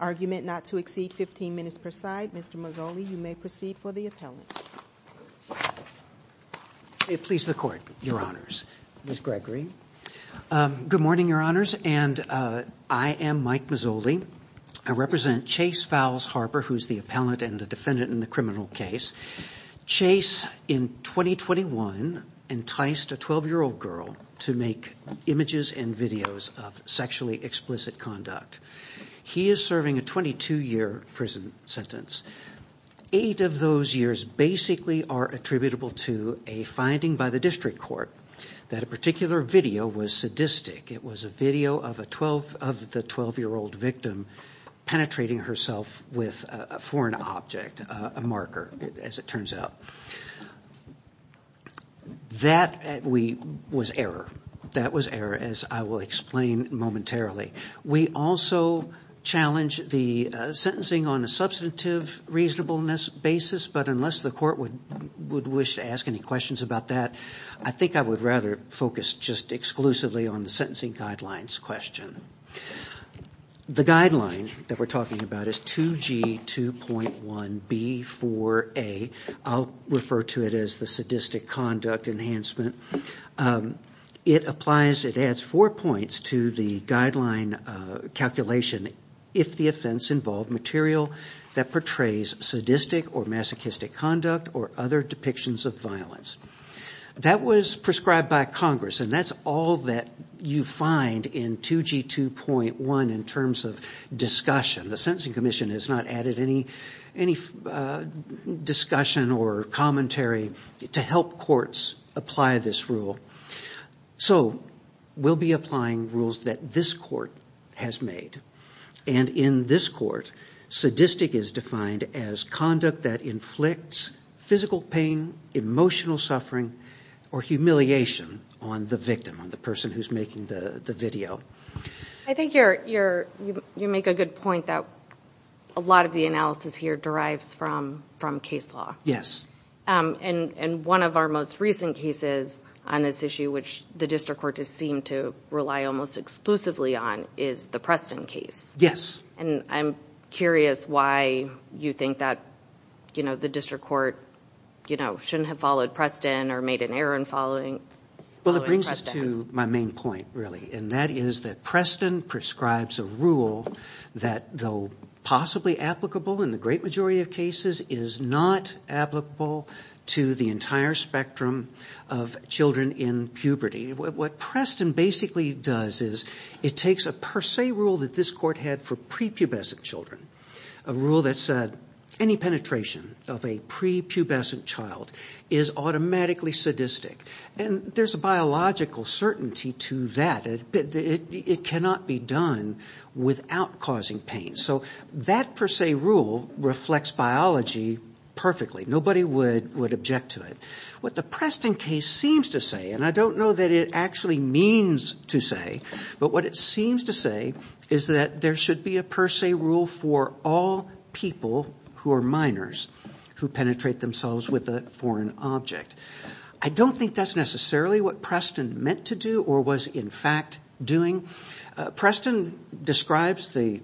Argument not to exceed 15 minutes per side. Mr. Mazzoli, you may proceed for the appellant. May it please the Court, Your Honors. Ms. Gregory. Good morning, Your Honors, and I am Mike Mazzoli. I represent Chase VowelsHarper, who's the appellant and the defendant in the criminal case. Chase, in 2021, enticed a 12-year-old girl to make images and videos of sexually explicit conduct. He is serving a 22-year prison sentence. Eight of those years basically are attributable to a finding by the district court that a particular video was sadistic. It was a video of the 12-year-old penetrating herself with a foreign object, a marker, as it turns out. That was error. That was error, as I will explain momentarily. We also challenge the sentencing on a substantive reasonableness basis, but unless the Court would wish to ask any questions about that, I think I would rather focus just exclusively on the sentencing guidelines question. The guideline that we're talking about is 2G2.1B4A. I'll refer to it as the sadistic conduct enhancement. It applies, it adds four points to the guideline calculation, if the offense involved material that portrays sadistic or masochistic conduct or other depictions of violence. That was prescribed by Congress, and that's all that you find in 2G2.1 in terms of discussion. The Sentencing Commission has not added any discussion or commentary to help courts apply this rule. So we'll be applying rules that this Court has made, and in this Court, sadistic is defined as conduct that inflicts physical pain, emotional suffering, or humiliation on the victim, on the person who's making the video. I think you make a good point that a lot of the analysis here derives from case law. Yes. And one of our most recent cases on this issue, which the district courts seem to rely almost exclusively on, is the Preston case. Yes. And I'm curious why you think that the district court shouldn't have followed Preston or made an error in following Preston. Well, it brings us to my main point, really, and that is that Preston prescribes a rule that, though possibly applicable in the great majority of cases, is not applicable to the entire spectrum of children in puberty. What Preston basically does is it takes a per se rule that this Court had for prepubescent children, a rule that said any penetration of a prepubescent child is automatically sadistic. And there's a biological certainty to that. It cannot be done without causing pain. So that per se rule reflects biology perfectly. Nobody would object to it. What the Preston case seems to say, and I don't know that it actually means to say, but what it seems to say is that there should be a per se rule for all people who are minors who penetrate themselves with a foreign object. I don't think that's necessarily what Preston meant to do or was in fact doing. Preston describes the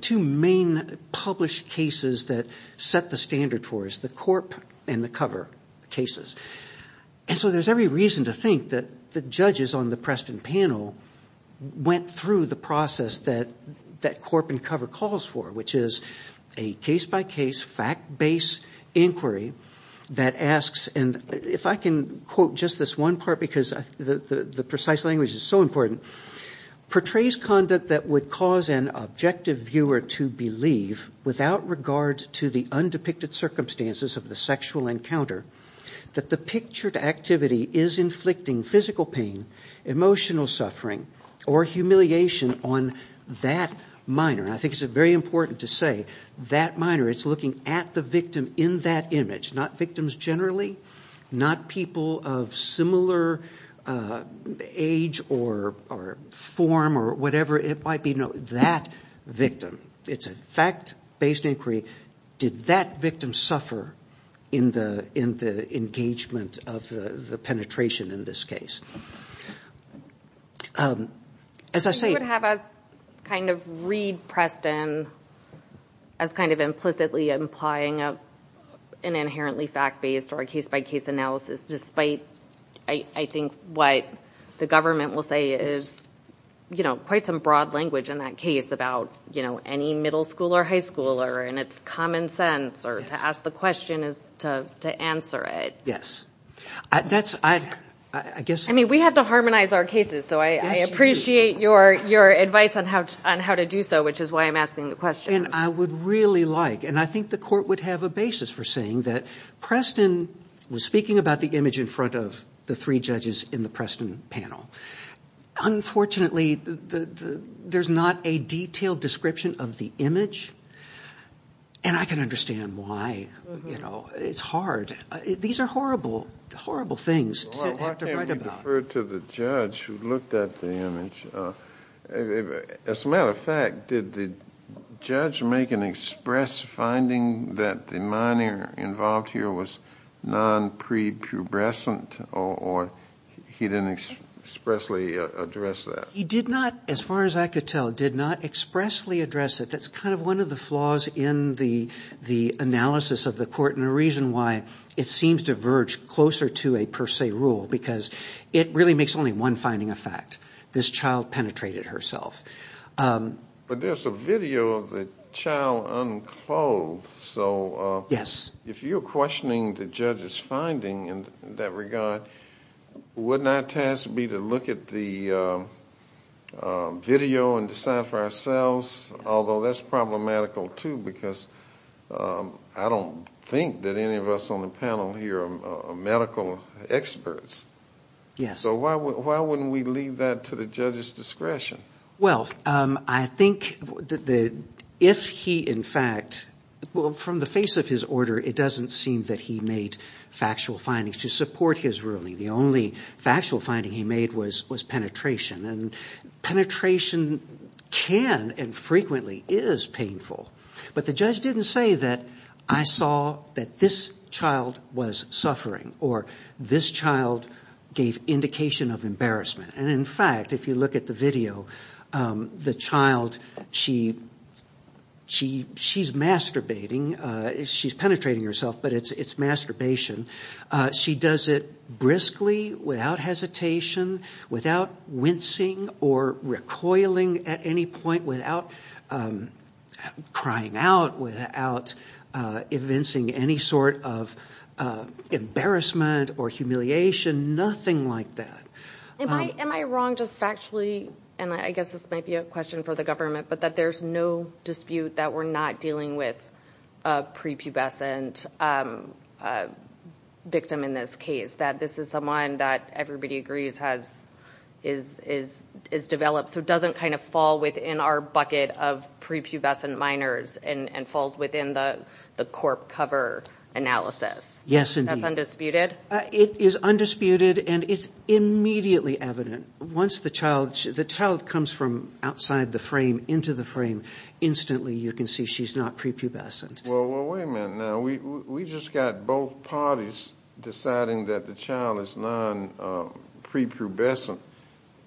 two main published cases that set the standard for us, the corp and the cover cases. And so there's every reason to think that judges on the Preston panel went through the process that corp and cover calls for, which is a case-by-case, fact-based inquiry that asks, and if I can quote just this one part because the precise language is so important, portrays conduct that would cause an objective viewer to believe, without regard to the undepicted circumstances of the sexual encounter, that the pictured activity is inflicting physical pain, emotional suffering, or humiliation on that minor. I think it's very important to say that minor. It's looking at the victim in that image, not victims generally, not people of similar age or form or whatever it might be. No, that victim. It's a fact-based inquiry. Did that victim suffer in the engagement of the penetration in this case? I would have us kind of read Preston as kind of implicitly implying an inherently fact-based or a case-by-case analysis, despite I think what the government will say is, you know, quite some broad language in that case about, you know, any middle schooler, high schooler, and it's common sense, or to ask the question is to answer it. Yes. I mean, we have to harmonize our cases, so I appreciate your advice on how to do so, which is why I'm asking the question. And I would really like, and I think the court would have a basis for saying that Preston was speaking about the image in front of the three judges in the Preston panel. Unfortunately, there's not a detailed description of the image, and I can understand why, you know, it's hard. These are horrible, horrible things to have to write about. Why can't we refer to the judge who looked at the image? As a matter of fact, did the judge make an express finding that the minor involved here was non-prepubescent, or he didn't expressly address that? He did not, as far as I could tell, did not expressly address it. That's kind of one of the flaws in the analysis of the court, and a reason why it seems to verge closer to a per se rule, because it really makes only one finding a fact. This child penetrated herself. But there's a video of the child unclothed, so if you're questioning the judge's finding in that regard, wouldn't our task be to look at the video and decide for ourselves? Although, that's problematical, too, because I don't think that any of us on the panel here are medical experts. So why wouldn't we leave that to the judge's discretion? Well, I think that if he, in fact, well, from the face of his order, it doesn't seem that he made factual findings to support his ruling. The only factual finding he made was penetration, and penetration can and frequently is painful. But the judge didn't say that I saw that this child was suffering, or this child gave indication of embarrassment. And in fact, if you look at the video, the child, she's masturbating, she's penetrating herself, but it's masturbation. She does it briskly, without hesitation, without wincing or recoiling at any point, without crying out, without evincing any sort of embarrassment or humiliation, nothing like that. Am I wrong just factually, and I guess this might be a question for the government, but that there's no dispute that we're not dealing with a prepubescent victim in this case, that this is someone that everybody agrees has, is developed, so it doesn't kind of fall within our bucket of prepubescent minors, and falls within the corp cover analysis? Yes, indeed. That's undisputed? It is undisputed, and it's immediately evident. Once the child, the child comes from outside the frame, into the frame, instantly you can see she's not prepubescent. Well, wait a minute now, we just got both parties deciding that the child is non-prepubescent,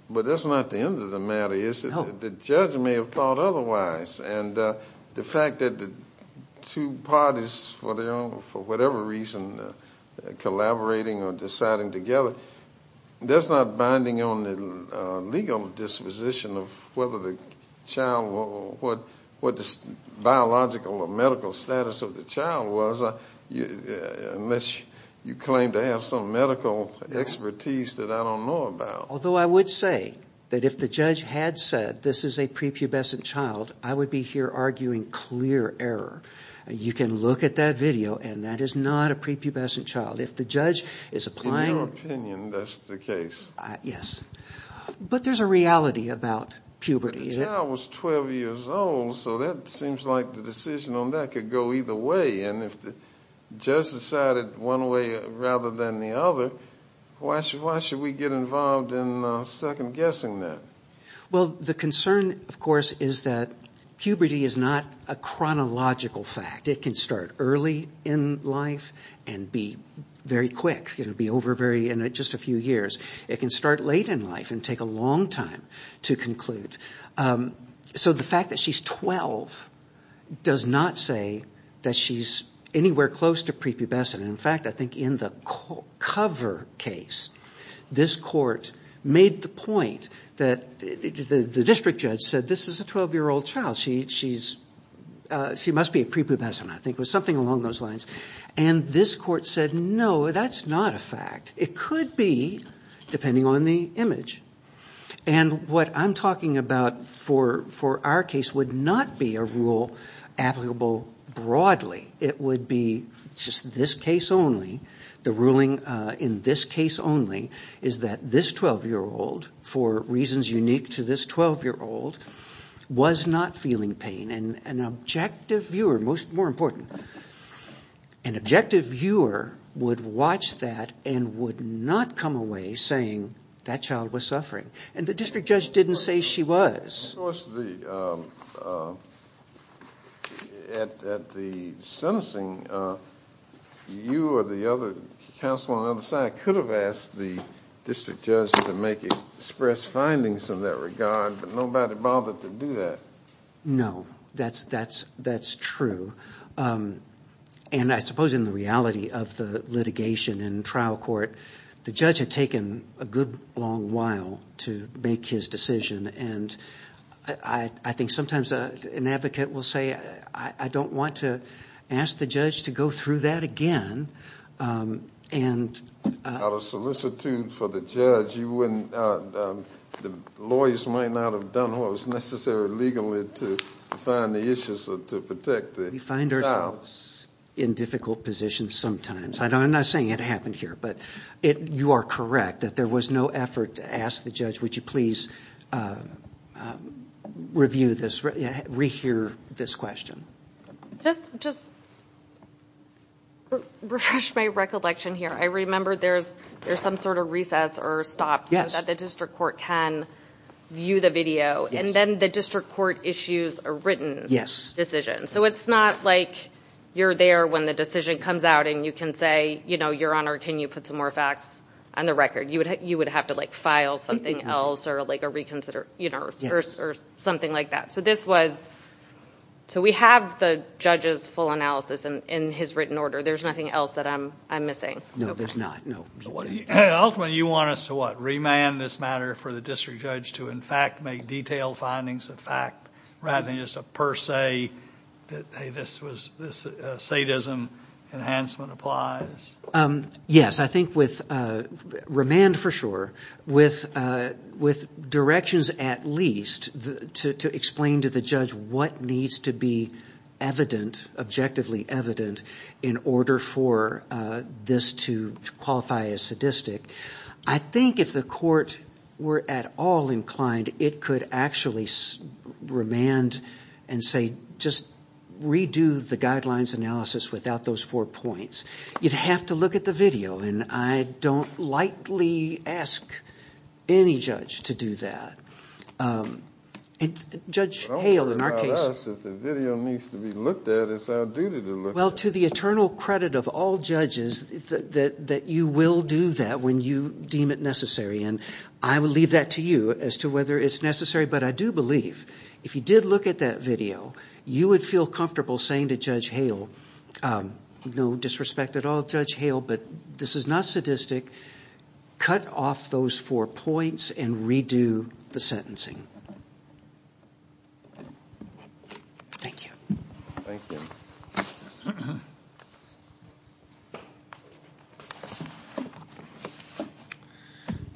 but that's not the end of the matter, is it? The judge may have thought otherwise, and the fact that the two parties, for their own, for whatever reason, collaborating or deciding together, that's not binding on the legal disposition of whether the child, what the biological or medical status of the child was, unless you claim to have some medical expertise that I don't know about. Although I would say that if the judge had said this is a prepubescent child, I would be here arguing clear error. You can look at that video, and that is not a prepubescent child. If the judge is applying... In your opinion, that's the case? Yes. But there's a reality about puberty. The child was 12 years old, so that seems like the decision on that could go either way, and if the judge decided one way rather than the other, why should we get involved in second guessing that? Well, the concern, of course, is that puberty is not a chronological fact. It can start early in life and be very quick. It'll be over in just a few years. It can start late in life and take a long time to conclude. So the fact that she's 12 does not say that she's anywhere close to prepubescent. In fact, I think in the cover case, this court made the point that the district judge said this is a 12-year-old child. She must be a prepubescent. I think it was something along those lines. And this court said, no, that's not a fact. It could be, depending on the image. And what I'm talking about for our case would not be a rule applicable broadly. It would be just this case only. The ruling in this case only is that this 12-year-old, for reasons unique to this 12-year-old, was not feeling pain. And an objective viewer, more important, an objective viewer would watch that and would not come away saying that child was suffering. And the district judge didn't say she was. Of course, at the sentencing, you or the other counsel on the other side could have asked the district judge to make express findings in that regard, but nobody bothered to do that. No, that's true. And I suppose in the reality of the litigation in trial court, the judge had taken a good long while to make his decision. And I think sometimes an advocate will say, I don't want to ask the judge to go through that again. Out of solicitude for the judge, you wouldn't, the lawyers might not have done what was necessary legally to find the issues to protect the child. We find ourselves in difficult positions sometimes. I'm not saying it happened here, but you are correct that there was no effort to ask the judge, would you please review this, re-hear this question? Just to refresh my recollection here, I remember there's some sort of recess or stop so that the district court can view the video and then the district court issues a written decision. So it's not like you're there when the decision comes out and you can say, you know, your honor, can you put some more facts on the record? You would have to file something else or like a reconsider, you know, or something like that. So this was, so we have the judge's full analysis in his written order. There's nothing else that I'm missing. No, there's not. No. Ultimately you want us to what? Remand this matter for the district judge to in fact make detailed findings of fact rather than just a per se that, hey, this sadism enhancement applies? Yes, I think with remand for sure, with directions at least to explain to the judge what needs to be evident, objectively evident, in order for this to qualify as sadistic. I think if the court were at all inclined, it could actually remand and say, just redo the guidelines analysis without those four points. You'd have to look at the video and I don't likely ask any judge to do that. Judge Hale, in our case. Don't worry about us. If the video needs to be looked at, it's our duty to look at it. Well, to the eternal credit of all judges, that you will do that when you deem it necessary. And I will leave that to you as to whether it's necessary. But I do believe if you did look at that video, you would feel comfortable saying to Judge Hale, no disrespect at all, Judge Hale, but this is not sadistic. Cut off those four points and redo the sentencing. Thank you.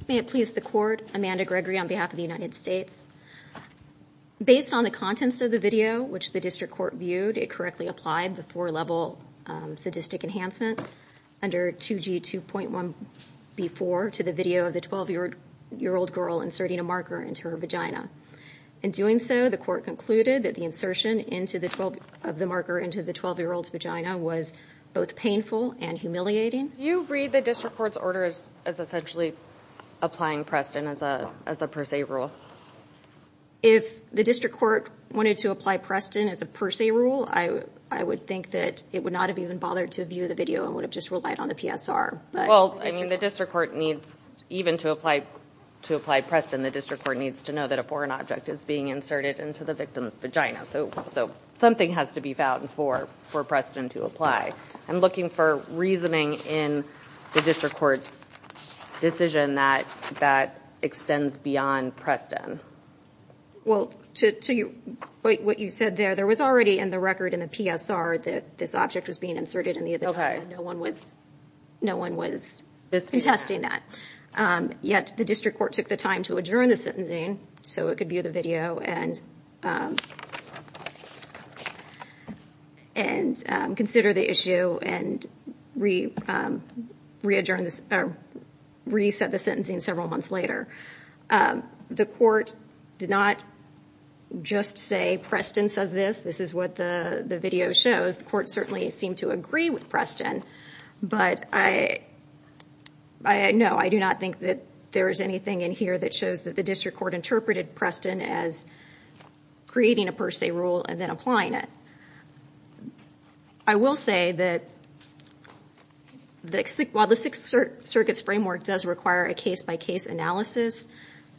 May it please the court. Amanda Gregory on behalf of the United States. Based on the contents of the video, which the district court viewed, it correctly applied the four-level sadistic enhancement under 2G 2.1B4 to the video of the 12-year-old girl inserting a marker into her vagina. In doing so, the court concluded that the insertion of the marker into the 12-year-old's vagina was both painful and humiliating. Do you read the district court's as essentially applying Preston as a per se rule? If the district court wanted to apply Preston as a per se rule, I would think that it would not have even bothered to view the video and would have just relied on the PSR. Well, I mean, the district court needs, even to apply Preston, the district court needs to know that a foreign object is being inserted into the victim's vagina. So something has to be found for Preston to apply. I'm looking for reasoning in the district court's decision that extends beyond Preston. Well, to what you said there, there was already in the record in the PSR that this object was being inserted in the vagina. No one was no one was contesting that. Yet the district court took the time to adjourn the sentencing so it could view the video and consider the issue and re-adjourn this or reset the sentencing several months later. The court did not just say Preston says this. This is what the video shows. The court certainly seemed to agree with Preston. But I know I do not think that there is anything in here that shows the district court interpreted Preston as creating a per se rule and then applying it. I will say that while the Sixth Circuit's framework does require a case-by-case analysis,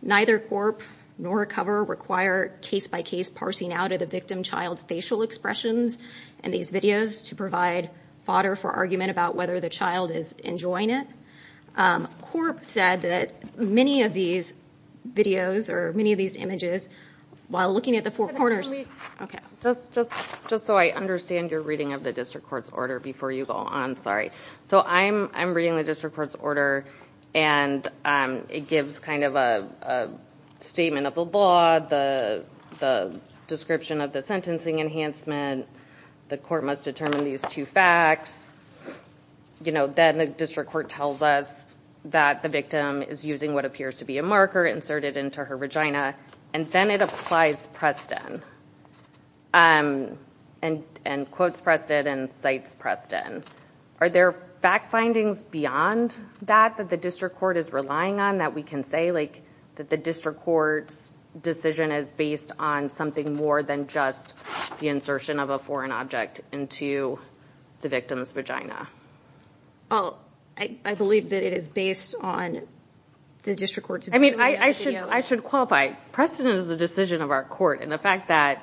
neither CORP nor COVR require case-by-case parsing out of the victim child's facial expressions in these videos to provide fodder for argument about whether the child is enjoying it. CORP said that many of these videos or many of these images, while looking at the four corners Just so I understand your reading of the district court's order before you go on. Sorry. So I'm reading the district court's order and it gives kind of a statement of the law, the description of the sentencing enhancement. The court must determine these two facts. You know, then the district court tells us that the victim is using what appears to be a marker inserted into her vagina and then it applies Preston and quotes Preston and cites Preston. Are there fact findings beyond that that the district court is relying on that we can say that the district court's decision is based on something more than just the insertion of a vagina? I believe that it is based on the district court. I mean, I should qualify. Preston is the decision of our court and the fact that,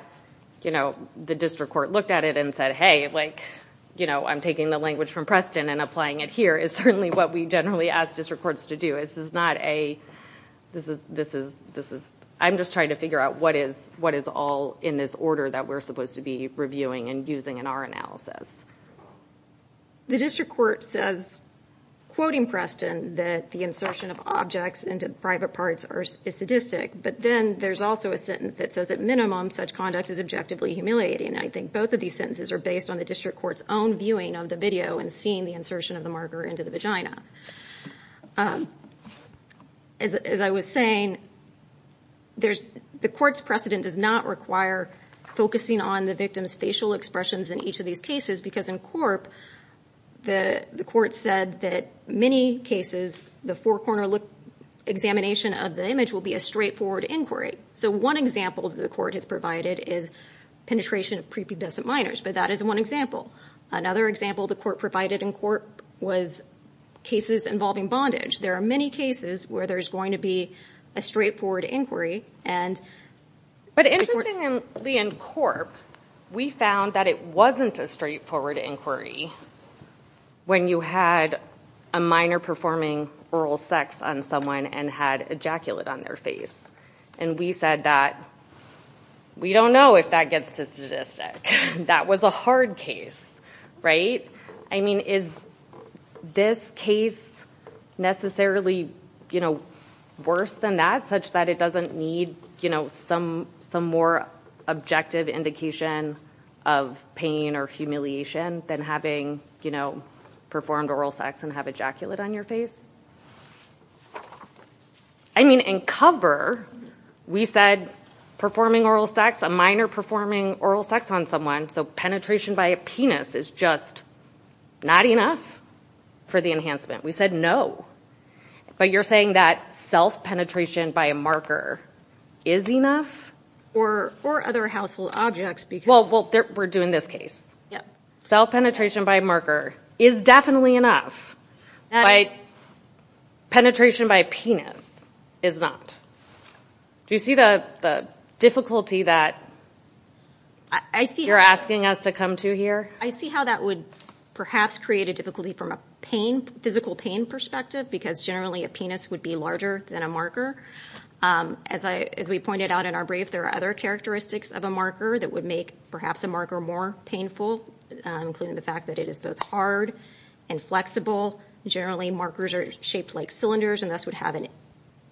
you know, the district court looked at it and said, hey, like, you know, I'm taking the language from Preston and applying it here is certainly what we generally ask district courts to do. This is not a, this is, this is, this is, I'm just trying to figure out what is, what is all in this order that we're supposed to be reviewing and using in our analysis? The district court says, quoting Preston, that the insertion of objects into private parts is sadistic, but then there's also a sentence that says at minimum such conduct is objectively humiliating. I think both of these sentences are based on the district court's own viewing of the video and seeing the insertion of the marker into the vagina. As I was saying, there's, the court's precedent does not require focusing on the victim's facial expressions in each of these cases because in Corp, the court said that many cases, the four corner look, examination of the image will be a straightforward inquiry. So one example that the court has provided is penetration of prepubescent minors, but that is one example. Another example the court provided in Corp was cases involving bondage. There are many cases where there's going to be a straightforward inquiry. But interestingly in Corp, we found that it wasn't a straightforward inquiry when you had a minor performing oral sex on someone and had ejaculate on their face. And we said that we don't know if that gets to sadistic. That was a hard case, right? I mean, is this case necessarily worse than that such that it doesn't need some more objective indication of pain or humiliation than having performed oral sex and have ejaculate on your face? I mean, in Cover, we said performing oral sex, a minor performing oral sex on someone, so penetration by a penis is just not enough for the enhancement. We said no. But you're saying that self-penetration by a marker is enough? Or other household objects. Well, we're doing this case. Yeah. Self-penetration by a marker is definitely enough, but penetration by a penis is not. Do you see the difficulty that you're asking us to come to here? I see how that would perhaps create a difficulty from a physical pain perspective because generally a penis would be larger than a marker. As we pointed out in our brief, there are other characteristics of a marker that would make perhaps a marker more painful, including the fact that it is both hard and flexible. Generally, markers are shaped like cylinders and thus would have an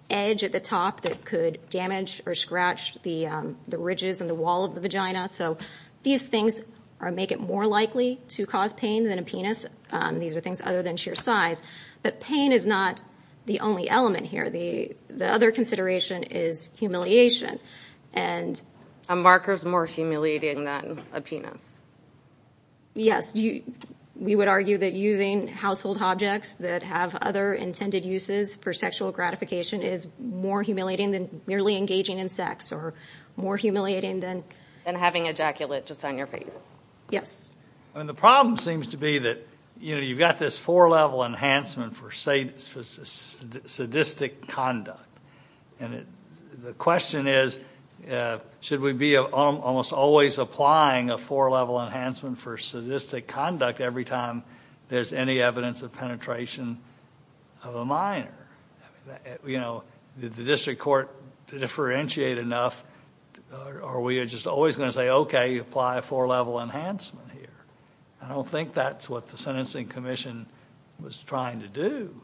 edge at the top that could damage or scratch the ridges and the wall of the vagina. So these things make it more likely to cause pain than a penis. These are things other than sheer size. But pain is not the only element here. The other consideration is humiliation. And a marker is more humiliating than a penis? Yes. We would argue that using household objects that have other intended uses for sexual gratification is more humiliating than merely engaging in sex or more humiliating than... Than having ejaculate just on your face. Yes. And the problem seems to be that, you know, you've got this four-level enhancement for sadistic conduct. And the question is, should we be almost always applying a four-level enhancement for sadistic conduct every time there's any evidence of penetration of a minor? You know, did the district court differentiate enough or are we just always going to say, okay, apply a four-level enhancement here? I don't think that's what the Sentencing Commission was trying to do.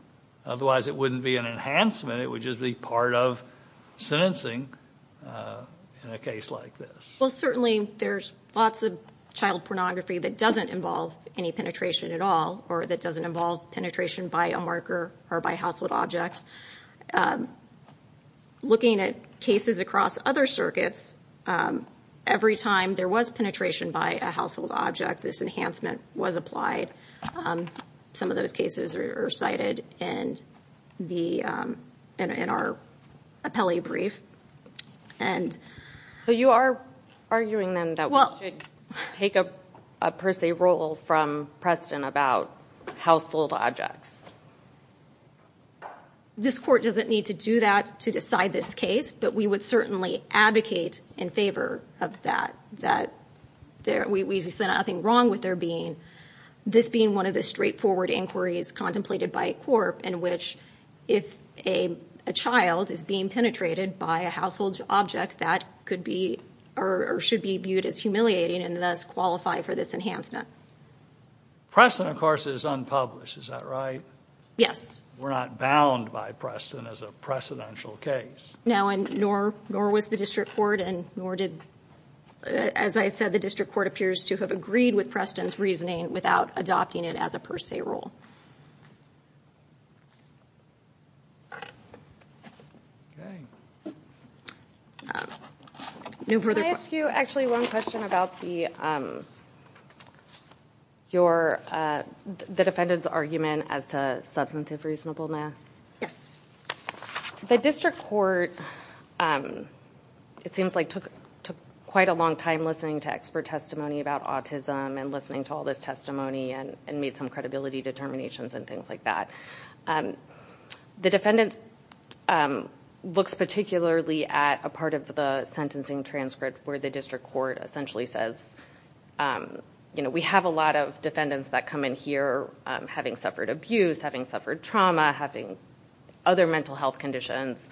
Otherwise, it wouldn't be an enhancement. It would just be part of sentencing in a case like this. Well, certainly there's lots of child pornography that doesn't involve any penetration at all or that doesn't involve penetration by a marker or by household objects. Looking at cases across other circuits, every time there was penetration by a household object, this enhancement was applied. Some of those cases are cited in our appellee brief. So you are arguing then that we should take a per se rule from Preston about household objects? This court doesn't need to do that to decide this case, but we would certainly advocate in favor of that. We said nothing wrong with this being one of the straightforward inquiries contemplated by a court in which if a child is being penetrated by a household object, that could be or should be viewed as humiliating and thus qualify for this enhancement. Preston, of course, is unpublished. Is that right? Yes. We're not bound by Preston as a precedential case. No, and nor was the district court and nor did, as I said, the district court appears to have agreed with Preston's reasoning without adopting it as a per se rule. Can I ask you actually one question about the defendant's argument as to substantive reasonableness? Yes. The district court, it seems like, took quite a long time listening to expert testimony about autism and listening to all this testimony and made some credibility determinations and things like that. The defendant looks particularly at a part of the sentencing transcript where the district court essentially says, you know, we have a lot of defendants that come in here having suffered abuse, having suffered trauma, having other mental health conditions.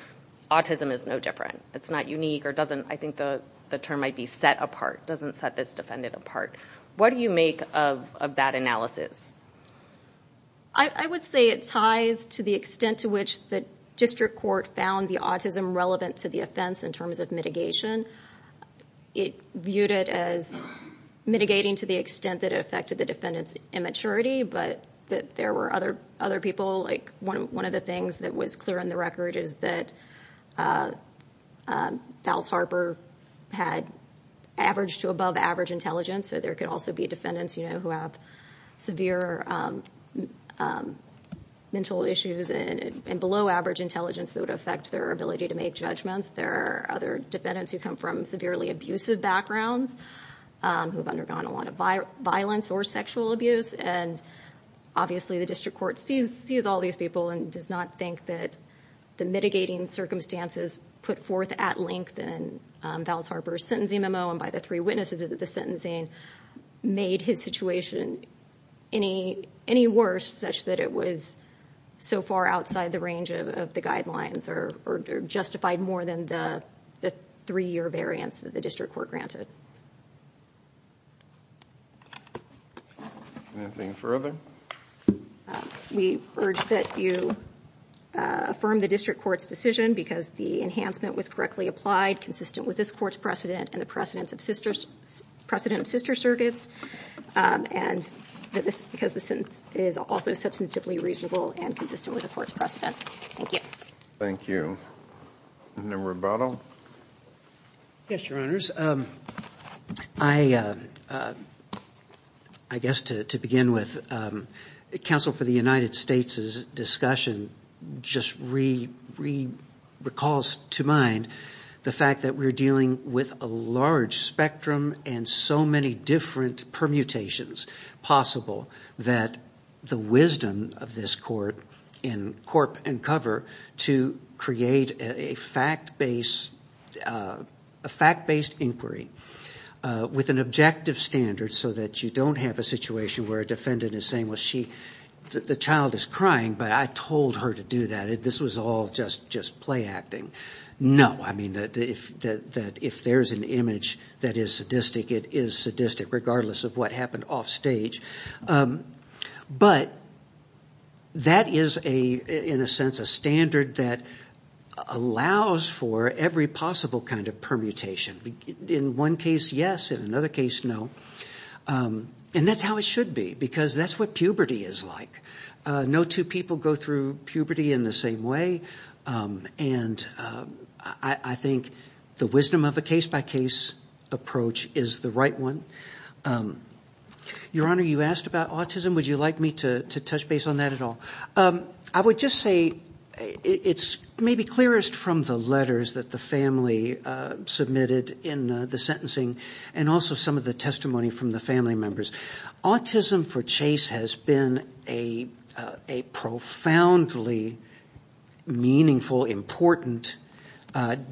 Autism is no different. It's not unique or doesn't, I think the term might be set apart, doesn't set this defendant apart. What do you make of that analysis? I would say it ties to the extent to which the district court found the autism relevant to the offense in terms of mitigation. It viewed it as mitigating to the extent that it affected the defendant's immaturity, but that there were other people, like one of the things that was clear on the record is that Fowles Harper had average to above average intelligence. So there could also be defendants, you know, who have severe mental issues and below average intelligence that would affect their ability to make judgments. There are other defendants who come from severely abusive backgrounds, who've undergone a lot of violence or sexual abuse. And obviously the district court sees all these people and does not think that the mitigating circumstances put forth at length in Fowles Harper's sentencing memo and by the three witnesses of the sentencing made his situation any worse such that it was so far outside the range of the guidelines or justified more than the three-year variance that the district court granted. Anything further? We urge that you affirm the district court's decision because the enhancement was correctly applied consistent with this court's precedent and the precedence of sister precedent of sister circuits and that this because the sentence is also substantively reasonable and consistent with the court's precedent. Thank you. Thank you. Mr. Rubato? Yes, your honors. I guess to begin with, counsel for the United States' discussion just recalls to mind the fact that we're dealing with a large spectrum and so many different permutations possible that the wisdom of this court in corp and cover to create a fact-based inquiry with an objective standard so that you don't have a situation where a defendant is saying, well, the child is crying, but I told her to do that. This was all just play acting. No. I mean, if there's an image that is sadistic, it is sadistic regardless of what happened off stage. But that is, in a sense, a standard that allows for every possible kind of permutation. In one case, yes. In another case, no. And that's how it should be because that's what puberty is like. No two people go through puberty in the same way and I think the wisdom of a case-by-case approach is the right one. Your honor, you asked about autism. Would you like me to touch base on that at all? I would just say it's maybe clearest from the letters that the family submitted in the sentencing and also some of the testimony from the family members. Autism for Chase has been a profoundly meaningful, important,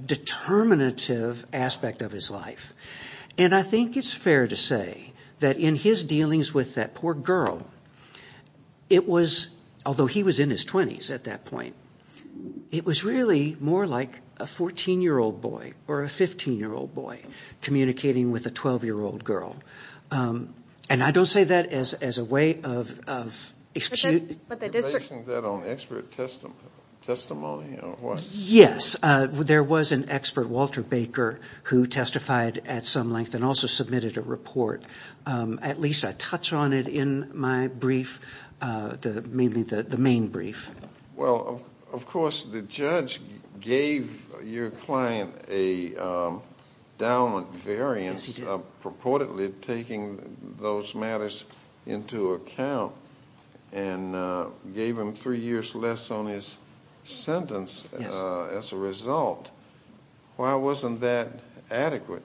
determinative aspect of his life. And I think it's fair to say that in his dealings with that poor girl, it was, although he was in his 20s at that point, it was really more like a 14-year-old boy or a 15-year-old boy communicating with a 12-year-old girl. And I don't say that as a way of... Are you basing that on expert testimony or what? Yes. There was an expert, Walter Baker, who testified at some length and also submitted a report. At least I touch on it in my brief, mainly the main brief. Well, of course, the judge gave your client a down variant purportedly taking those matters into account and gave him three years less on his sentence as a result. Why wasn't that adequate?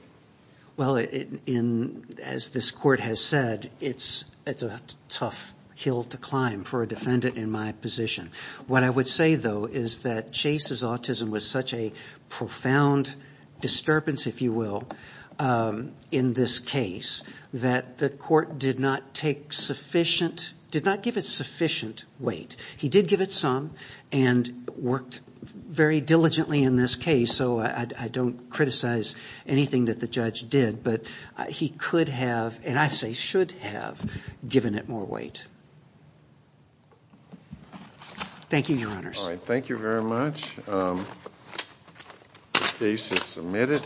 Well, as this court has said, it's a tough hill to climb for a defendant in my position. What I would say, though, is that Chase's autism was such a profound disturbance, if you will, in this case that the court did not take sufficient, did not give it sufficient weight. He did give it some and worked very diligently in this case, so I don't criticize anything that the judge did, but he could have, and I say should have, given it more weight. Thank you, Your Honors. All right. Thank you very much. The case is submitted.